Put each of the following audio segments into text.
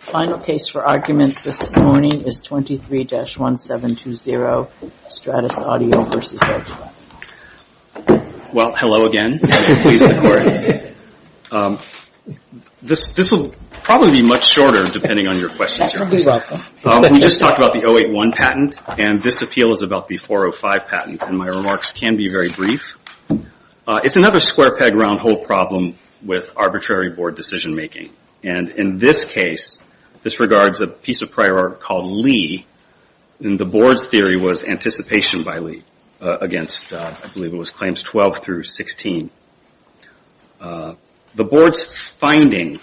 Final case for argument this morning is 23-1720, StratosAudio, v. Volkswagen Group of America, Inc. Well, hello again. This will probably be much shorter depending on your questions. We just talked about the 081 patent, and this appeal is about the 405 patent. And my remarks can be very brief. It's another square peg round hole problem with arbitrary board decision making. And in this case, this regards a piece of prior art called Lee. And the board's theory was anticipation by Lee against, I believe it was claims 12-16. The board's finding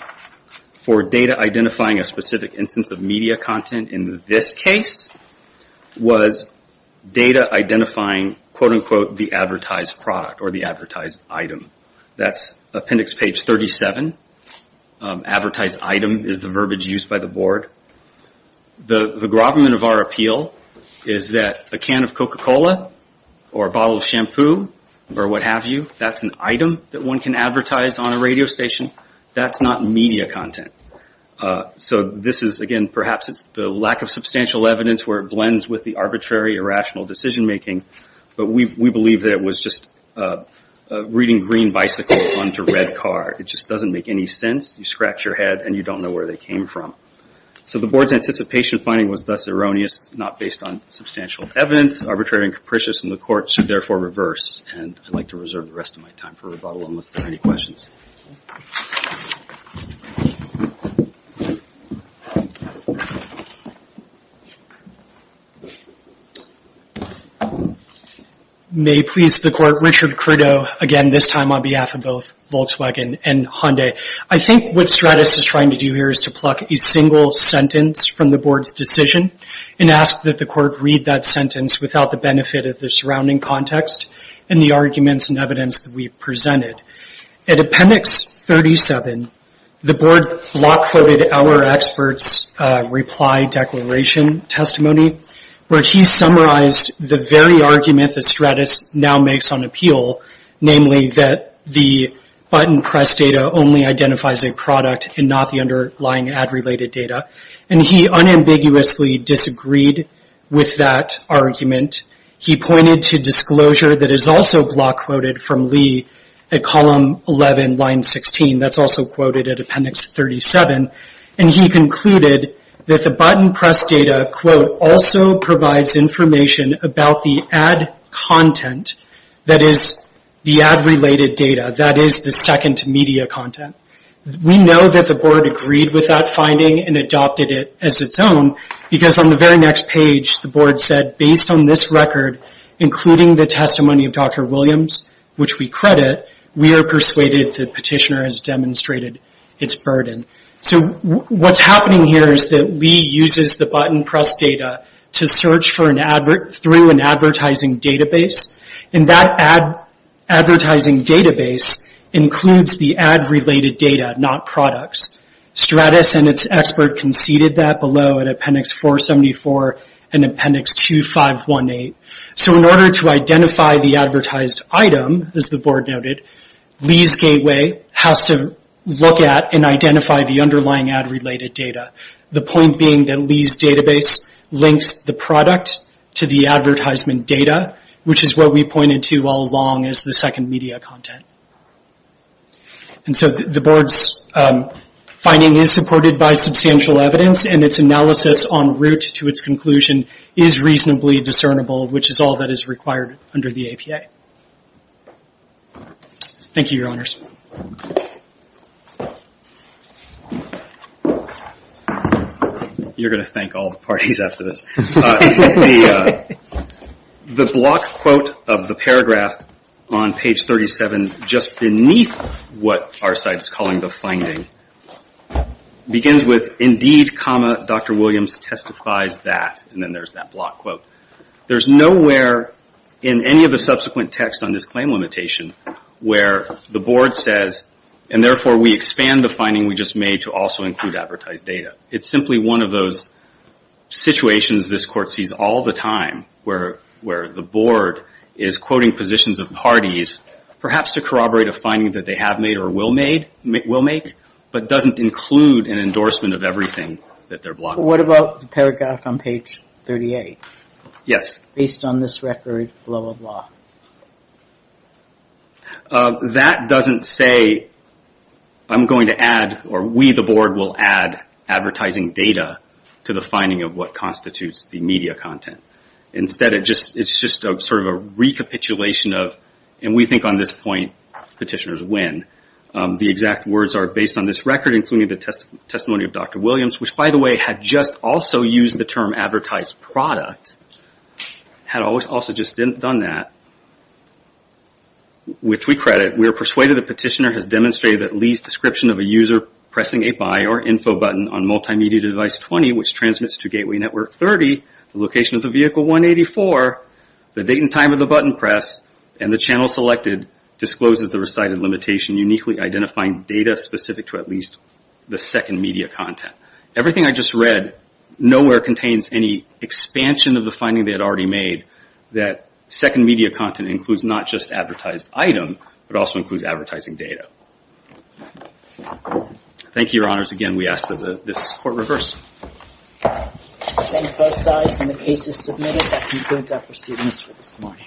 for data identifying a specific instance of media content in this case was data identifying, quote-unquote, the advertised product or the advertised item. That's appendix page 37. Advertised item is the verbiage used by the board. The gravamen of our appeal is that a can of Coca-Cola or a bottle of shampoo or what have you, that's an item that one can advertise on a radio station. That's not media content. So this is, again, perhaps it's the lack of substantial evidence where it blends with the arbitrary or rational decision making. But we believe that it was just reading green bicycle onto red car. It just doesn't make any sense. You scratch your head and you don't know where they came from. So the board's anticipation finding was thus erroneous, not based on substantial evidence, arbitrary and capricious, and the court should therefore reverse. And I'd like to reserve the rest of my time for rebuttal unless there are any questions. May it please the court, Richard Credo, again, this time on behalf of both Volkswagen and Hyundai. I think what Stratis is trying to do here is to pluck a single sentence from the board's decision and ask that the court read that sentence without the benefit of the surrounding context and the arguments and evidence that we've presented. At appendix 37, the board block quoted our experts' reply declaration testimony, where he summarized the very argument that Stratis now makes on appeal, namely that the button press data only identifies a product and not the underlying ad-related data. And he unambiguously disagreed with that argument. He pointed to disclosure that is also block quoted from Lee at column 11, line 16. That's also quoted at appendix 37. And he concluded that the button press data, quote, also provides information about the ad content that is the ad-related data, that is the second media content. We know that the board agreed with that finding and adopted it as its own, because on the very next page, the board said, based on this record, including the testimony of Dr. Williams, which we credit, we are persuaded the petitioner has demonstrated its burden. So what's happening here is that Lee uses the button press data to search through an advertising database. And that advertising database includes the ad-related data, not products. Stratis and its expert conceded that below in appendix 474 and appendix 2518. So in order to identify the advertised item, as the board noted, Lee's gateway has to look at and identify the underlying ad-related data. The point being that Lee's database links the product to the advertisement data, which is what we pointed to all along as the second media content. And so the board's finding is supported by substantial evidence, and its analysis en route to its conclusion is reasonably discernible, which is all that is required under the APA. Thank you, Your Honors. You're going to thank all the parties after this. The block quote of the paragraph on page 37, just beneath what our site's calling the finding, begins with, indeed, comma, Dr. Williams testifies that. And then there's that block quote. There's nowhere in any of the subsequent text on this claim limitation where the board says, and therefore we expand the finding we just made to also include advertised data. It's simply one of those situations this court sees all the time, where the board is quoting positions of parties, perhaps to corroborate a finding that they have made or will make, but doesn't include an endorsement of everything that they're blocking. What about the paragraph on page 38? Yes. Based on this record, blah, blah, blah. That doesn't say, I'm going to add, or we, the board, will add advertising data to the finding of what constitutes the media content. Instead, it's just sort of a recapitulation of, and we think on this point, petitioners win. The exact words are, based on this record, including the testimony of Dr. Williams, which, by the way, had just also used the term advertised product, had also just done that, which we credit. We are persuaded the petitioner has demonstrated that Lee's description of a user pressing a buy or info button on multimedia device 20, which transmits to gateway network 30, the location of the vehicle 184, the date and time of the button press, and the channel selected, discloses the recited limitation uniquely identifying data specific to at least the second media content. Everything I just read nowhere contains any expansion of the finding they had already made that second media content includes not just advertised item, but also includes advertising data. Thank you, Your Honors. Again, we ask that this court reverse. Thank both sides, and the case is submitted. That concludes our proceedings for this morning.